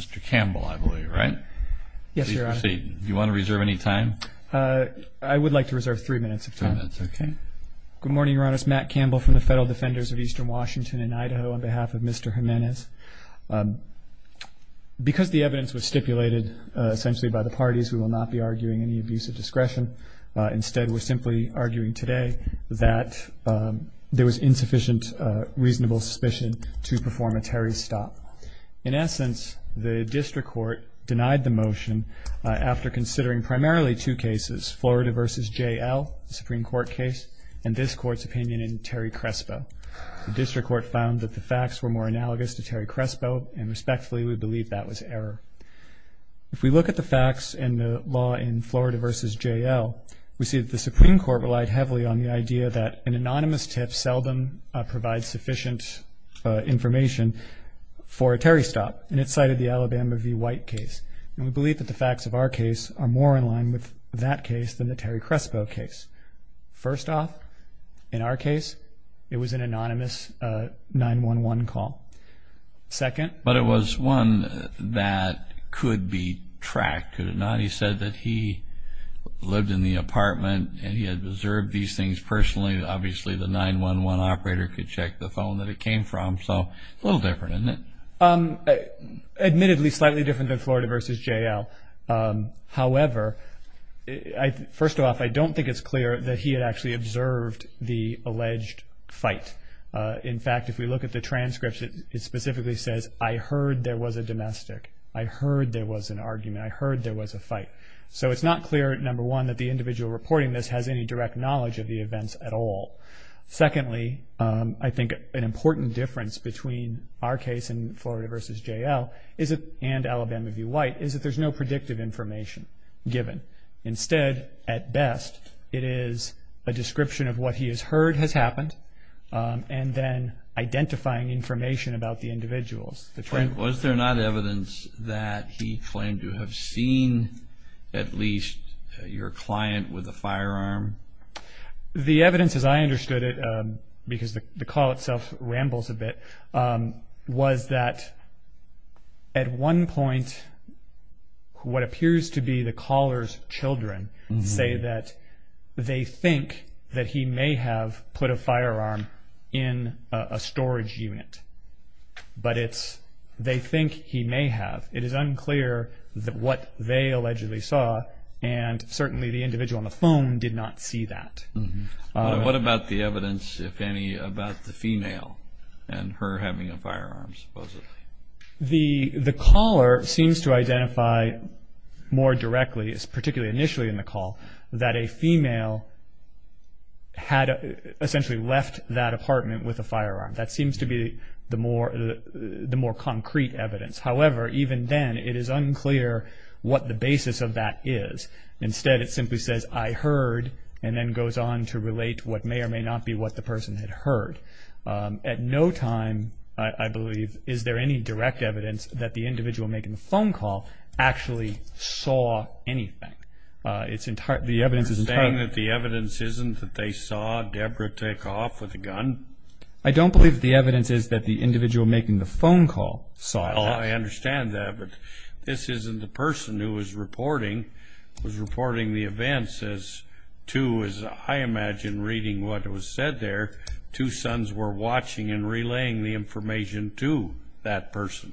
Mr. Campbell, I believe, right? Yes, Your Honor. Please proceed. Do you want to reserve any time? I would like to reserve three minutes of time. Three minutes, okay. Good morning, Your Honor. It's Matt Campbell from the Federal Defenders of Eastern Washington and Idaho on behalf of Mr. Jimenez. Because the evidence was stipulated essentially by the parties, we will not be arguing any abuse of discretion. Instead, we're simply arguing today that there was insufficient reasonable suspicion to perform a Terry's stop. In essence, the district court denied the motion after considering primarily two cases, Florida v. J.L., the Supreme Court case, and this Court's opinion in Terry Crespo. The district court found that the facts were more analogous to Terry Crespo, and respectfully, we believe that was error. If we look at the facts in the law in Florida v. J.L., we see that the Supreme Court relied heavily on the idea that an anonymous tip seldom provides sufficient information for a Terry stop, and it cited the Alabama v. White case. And we believe that the facts of our case are more in line with that case than the Terry Crespo case. First off, in our case, it was an anonymous 911 call. Second? But it was one that could be tracked, could it not? He said that he lived in the apartment and he had observed these things personally. Obviously, the 911 operator could check the phone that it came from, so a little different, isn't it? Admittedly, slightly different than Florida v. J.L. However, first off, I don't think it's clear that he had actually observed the alleged fight. In fact, if we look at the transcripts, it specifically says, I heard there was a domestic, I heard there was an argument, I heard there was a fight. So it's not clear, number one, that the individual reporting this has any direct knowledge of the events at all. Secondly, I think an important difference between our case in Florida v. J.L. and Alabama v. White is that there's no predictive information given. Instead, at best, it is a description of what he has heard has happened and then identifying information about the individuals. Was there not evidence that he claimed to have seen at least your client with a firearm? The evidence, as I understood it, because the call itself rambles a bit, was that at one point, what appears to be the caller's children say that they think that he may have put a firearm in a storage unit. But it's, they think he may have. It is unclear what they allegedly saw, and certainly the individual on the phone did not see that. What about the evidence, if any, about the female and her having a firearm, supposedly? The caller seems to identify more directly, particularly initially in the call, that a female had essentially left that apartment with a firearm. That seems to be the more concrete evidence. However, even then, it is unclear what the basis of that is. Instead, it simply says, I heard, and then goes on to relate what may or may not be what the person had heard. At no time, I believe, is there any direct evidence that the individual making the phone call actually saw anything. It's entirely, the evidence is entirely. You're saying that the evidence isn't that they saw Deborah take off with a gun? I don't believe the evidence is that the individual making the phone call saw that. Oh, I understand that, but this isn't the person who was reporting. It was reporting the events as to, as I imagine reading what was said there, two sons were watching and relaying the information to that person.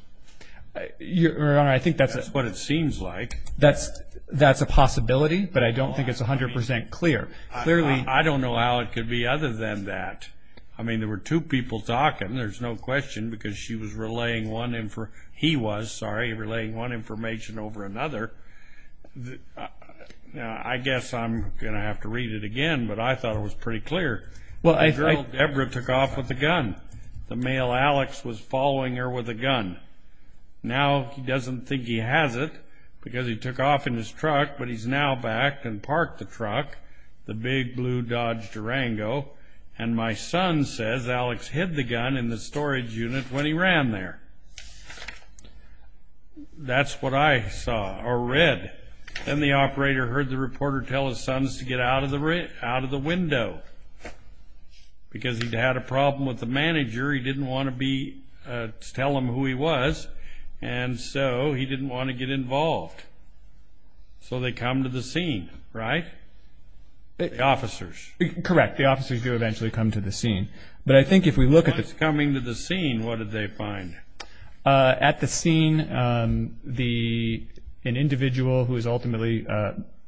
Your Honor, I think that's what it seems like. That's a possibility, but I don't think it's 100% clear. I don't know how it could be other than that. I mean, there were two people talking, there's no question, because she was relaying one, he was, sorry, relaying one information over another. I guess I'm going to have to read it again, but I thought it was pretty clear. The girl Deborah took off with a gun. The male Alex was following her with a gun. Now he doesn't think he has it because he took off in his truck, but he's now back and parked the truck, the big blue Dodge Durango, and my son says Alex hid the gun in the storage unit when he ran there. That's what I saw or read. Then the operator heard the reporter tell his sons to get out of the window because he'd had a problem with the manager. He didn't want to be, to tell him who he was, and so he didn't want to get involved. So they come to the scene, right? The officers. Correct. The officers do eventually come to the scene. Once coming to the scene, what did they find? At the scene, an individual who is ultimately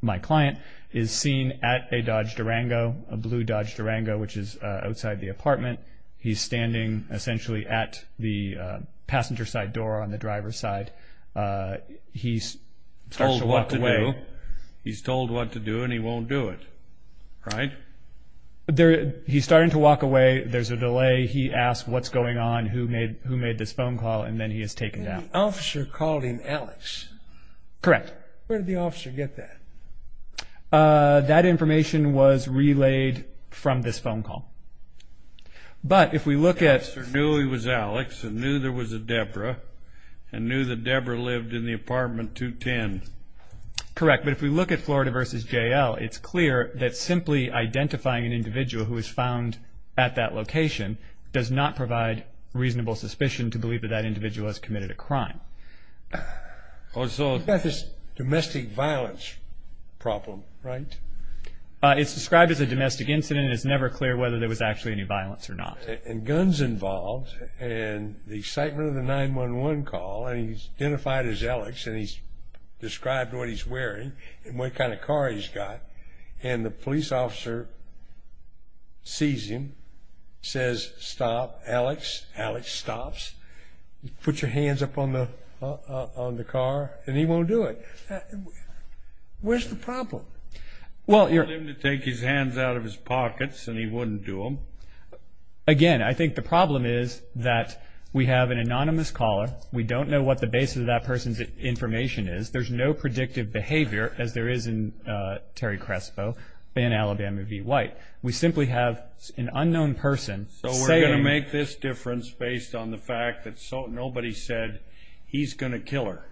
my client is seen at a Dodge Durango, a blue Dodge Durango, which is outside the apartment. He's standing essentially at the passenger side door on the driver's side. He's told what to do, and he won't do it, right? He's starting to walk away. There's a delay. He asks what's going on, who made this phone call, and then he is taken down. The officer called him Alex. Correct. Where did the officer get that? That information was relayed from this phone call. But if we look at... The officer knew he was Alex and knew there was a Debra and knew that Debra lived in the apartment 210. Correct. But if we look at Florida v. J.L., it's clear that simply identifying an individual who was found at that location does not provide reasonable suspicion to believe that that individual has committed a crime. You've got this domestic violence problem, right? It's described as a domestic incident and it's never clear whether there was actually any violence or not. And guns involved, and the excitement of the 911 call, and he's identified as Alex and he's described what he's wearing and what kind of car he's got, and the police officer sees him, says, Stop, Alex. Alex stops. Put your hands up on the car, and he won't do it. Well, you're... He told him to take his hands out of his pockets and he wouldn't do them. Again, I think the problem is that we have an anonymous caller. We don't know what the basis of that person's information is. There's no predictive behavior as there is in Terry Crespo, Van Alabama v. White. We simply have an unknown person saying... So we're going to make this difference based on the fact that nobody said he's going to kill her.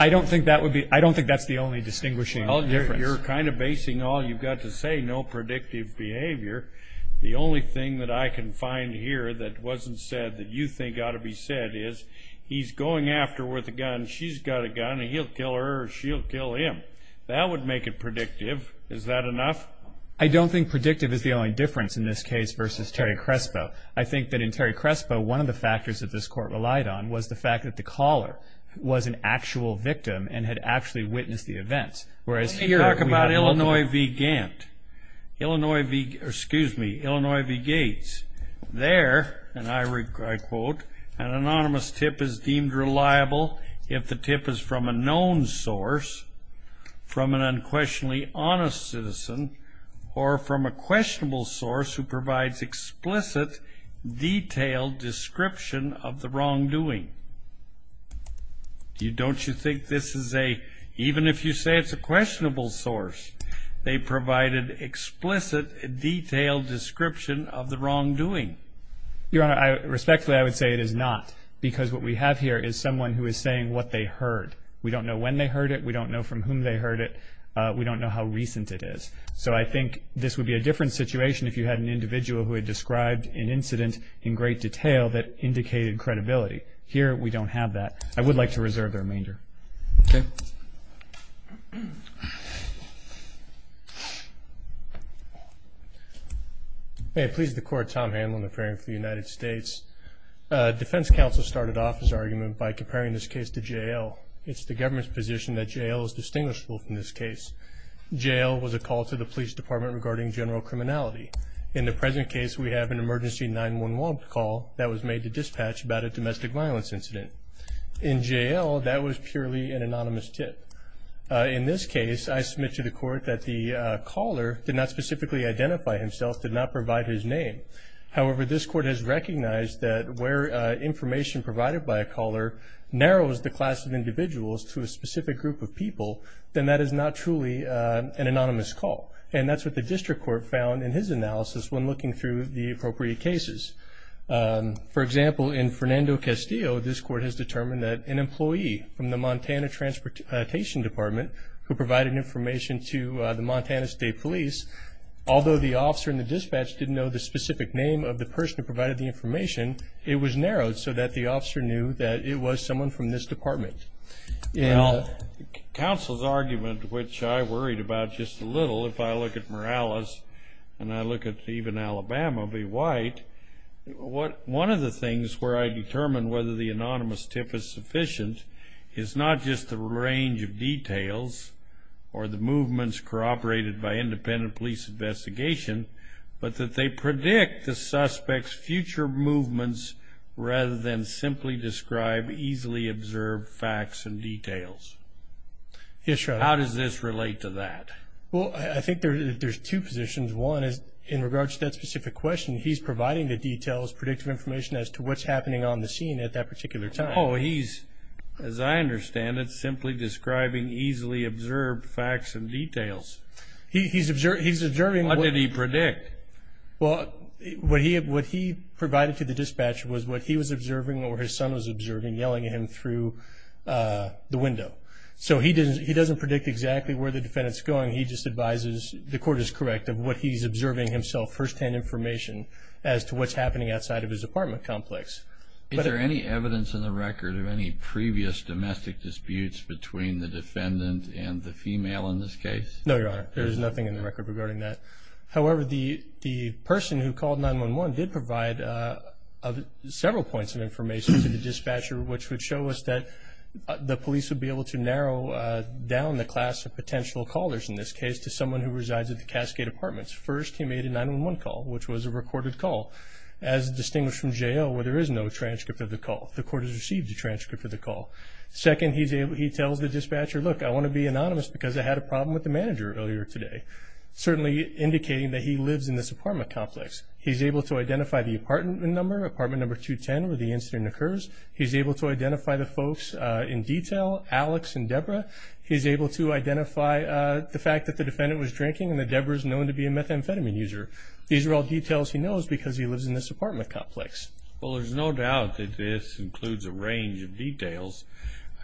I don't think that's the only distinguishing difference. Well, you're kind of basing all you've got to say, no predictive behavior. The only thing that I can find here that wasn't said that you think ought to be said is he's going after her with a gun, she's got a gun, and he'll kill her or she'll kill him. That would make it predictive. Is that enough? I don't think predictive is the only difference in this case versus Terry Crespo. I think that in Terry Crespo, one of the factors that this court relied on was the fact that the caller was an actual victim and had actually witnessed the events. Let me talk about Illinois v. Gantt. Excuse me, Illinois v. Gates. There, and I quote, an anonymous tip is deemed reliable if the tip is from a known source, from an unquestionably honest citizen, or from a questionable source who provides explicit, detailed description of the wrongdoing. Don't you think this is a, even if you say it's a questionable source, they provided explicit, detailed description of the wrongdoing? Your Honor, respectfully, I would say it is not, because what we have here is someone who is saying what they heard. We don't know when they heard it. We don't know from whom they heard it. We don't know how recent it is. So I think this would be a different situation if you had an individual who had described an incident in great detail that indicated credibility. Here, we don't have that. I would like to reserve their remainder. Okay. May it please the Court, Tom Hanlon, a parent for the United States. Defense counsel started off his argument by comparing this case to J.L. It's the government's position that J.L. is distinguishable from this case. J.L. was a call to the police department regarding general criminality. In the present case, we have an emergency 911 call that was made to dispatch about a domestic violence incident. In J.L., that was purely an anonymous tip. In this case, I submit to the Court that the caller did not specifically identify himself, did not provide his name. However, this Court has recognized that where information provided by a caller narrows the class of individuals to a specific group of people, then that is not truly an anonymous call. And that's what the district court found in his analysis when looking through the appropriate cases. For example, in Fernando Castillo, this Court has determined that an employee from the Montana Transportation Department, who provided information to the Montana State Police, although the officer in the dispatch didn't know the specific name of the person who provided the information, it was narrowed so that the officer knew that it was someone from this department. Now, counsel's argument, which I worried about just a little, if I look at Morales and I look at even Alabama v. White, one of the things where I determine whether the anonymous tip is sufficient is not just the range of details or the movements corroborated by independent police investigation, but that they predict the suspect's future movements rather than simply describe easily observed facts and details. Yes, Your Honor. How does this relate to that? Well, I think there's two positions. One is in regards to that specific question, he's providing the details, predictive information, as to what's happening on the scene at that particular time. Oh, he's, as I understand it, simply describing easily observed facts and details. He's observing. What did he predict? Well, what he provided to the dispatch was what he was observing or his son was observing, yelling at him through the window. So he doesn't predict exactly where the defendant's going, he just advises, the court is correct, of what he's observing himself, firsthand information as to what's happening outside of his apartment complex. Is there any evidence in the record of any previous domestic disputes between the defendant and the female in this case? No, Your Honor, there is nothing in the record regarding that. However, the person who called 911 did provide several points of information to the dispatcher, which would show us that the police would be able to narrow down the class of potential callers in this case to someone who resides at the Cascade Apartments. First, he made a 911 call, which was a recorded call, as distinguished from jail where there is no transcript of the call. The court has received a transcript of the call. Second, he tells the dispatcher, look, I want to be anonymous because I had a problem with the manager earlier today. Certainly indicating that he lives in this apartment complex. He's able to identify the apartment number, apartment number 210, where the incident occurs. He's able to identify the folks in detail, Alex and Debra. He's able to identify the fact that the defendant was drinking and that Debra is known to be a methamphetamine user. These are all details he knows because he lives in this apartment complex.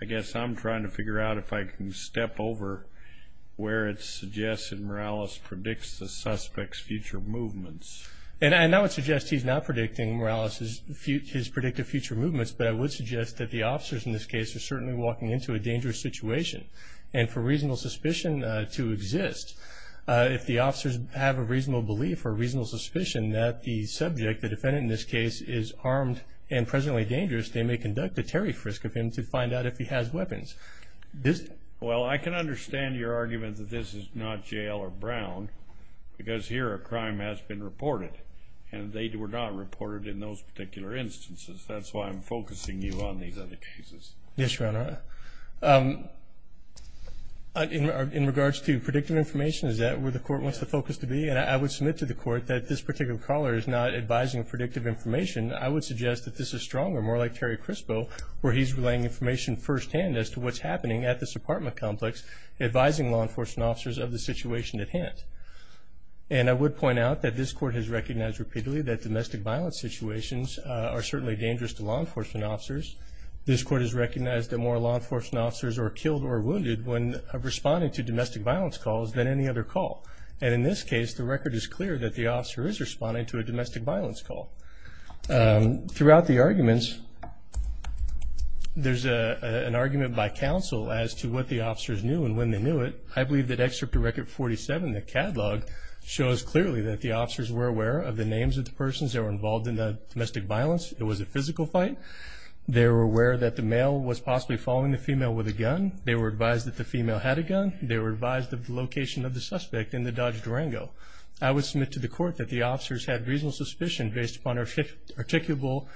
I guess I'm trying to figure out if I can step over where it suggests that Morales predicts the suspect's future movements. And I would suggest he's not predicting Morales' predictive future movements, but I would suggest that the officers in this case are certainly walking into a dangerous situation. And for reasonable suspicion to exist, if the officers have a reasonable belief or a reasonable suspicion that the subject, the defendant in this case, is armed and presently dangerous, they may conduct a Terry frisk of him to find out if he has weapons. Well, I can understand your argument that this is not jail or Brown because here a crime has been reported and they were not reported in those particular instances. That's why I'm focusing you on these other cases. Yes, Your Honor. In regards to predictive information, is that where the court wants the focus to be? And I would submit to the court that this particular caller is not advising predictive information. I would suggest that this is stronger, more like Terry Crispo, where he's relaying information firsthand as to what's happening at this apartment complex, advising law enforcement officers of the situation at hand. And I would point out that this court has recognized repeatedly that domestic violence situations are certainly dangerous to law enforcement officers. This court has recognized that more law enforcement officers are killed or wounded when responding to domestic violence calls than any other call. And in this case, the record is clear that the officer is responding to a domestic violence call. Throughout the arguments, there's an argument by counsel as to what the officers knew and when they knew it. I believe that Excerpt to Record 47, the catalog, shows clearly that the officers were aware of the names of the persons that were involved in the domestic violence. It was a physical fight. They were aware that the male was possibly following the female with a gun. They were advised that the female had a gun. They were advised of the location of the suspect in the Dodge Durango. I would submit to the court that the officers had reasonable suspicion based upon articulable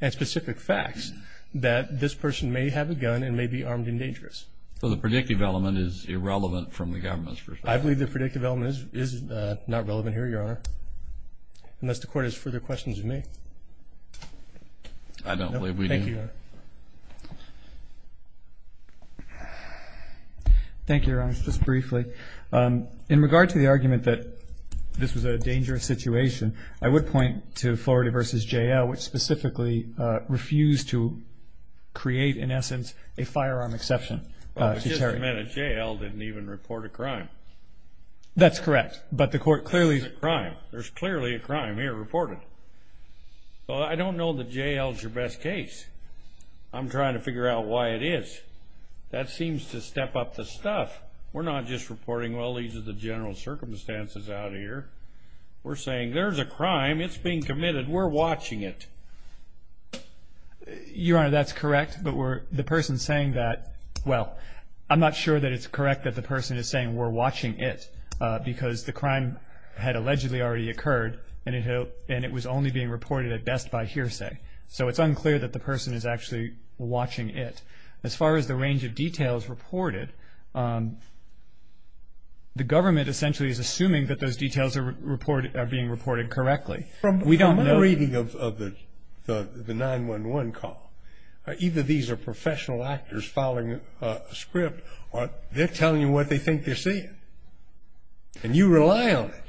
and specific facts that this person may have a gun and may be armed and dangerous. So the predictive element is irrelevant from the government's perspective? I believe the predictive element is not relevant here, Your Honor, unless the court has further questions of me. I don't believe we do. Thank you, Your Honor. Thank you, Your Honor. Just briefly, in regard to the argument that this was a dangerous situation, I would point to Florida v. J.L., which specifically refused to create, in essence, a firearm exception to Terry. Well, just a minute. J.L. didn't even report a crime. That's correct, but the court clearly... There's a crime. There's clearly a crime here reported. Well, I don't know that J.L. is your best case. I'm trying to figure out why it is. That seems to step up the stuff. We're not just reporting, well, these are the general circumstances out here. We're saying there's a crime. It's being committed. We're watching it. Your Honor, that's correct, but the person saying that, well, I'm not sure that it's correct that the person is saying we're watching it because the crime had allegedly already occurred and it was only being reported at best by hearsay. So it's unclear that the person is actually watching it. As far as the range of details reported, the government essentially is assuming that those details are being reported correctly. From my reading of the 911 call, either these are professional actors following a script or they're telling you what they think they're seeing, and you rely on it.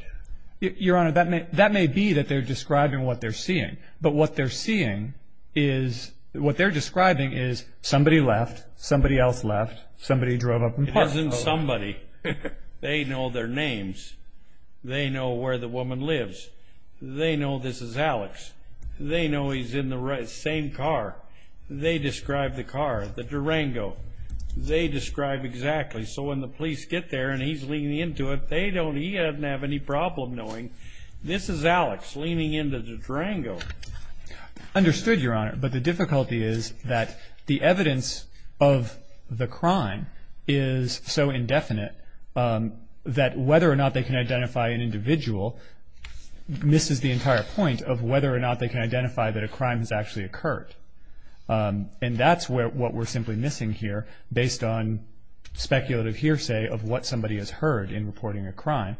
But what they're seeing is, what they're describing is somebody left, somebody else left, somebody drove up and parked. It isn't somebody. They know their names. They know where the woman lives. They know this is Alex. They know he's in the same car. They describe the car, the Durango. They describe exactly. So when the police get there and he's leaning into it, he doesn't have any problem knowing this is Alex leaning into the Durango. I understood, Your Honor, but the difficulty is that the evidence of the crime is so indefinite that whether or not they can identify an individual misses the entire point of whether or not they can identify that a crime has actually occurred. And that's what we're simply missing here based on speculative hearsay of what somebody has heard in reporting a crime.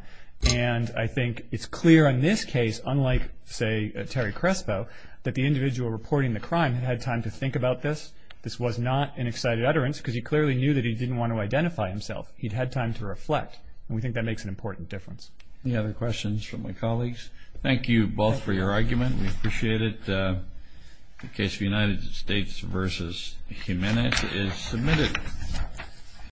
And I think it's clear in this case, unlike, say, Terry Crespo, that the individual reporting the crime had had time to think about this. This was not an excited utterance because he clearly knew that he didn't want to identify himself. He'd had time to reflect, and we think that makes an important difference. Any other questions from my colleagues? Thank you both for your argument. We appreciate it. The case of United States v. Jimenez is submitted.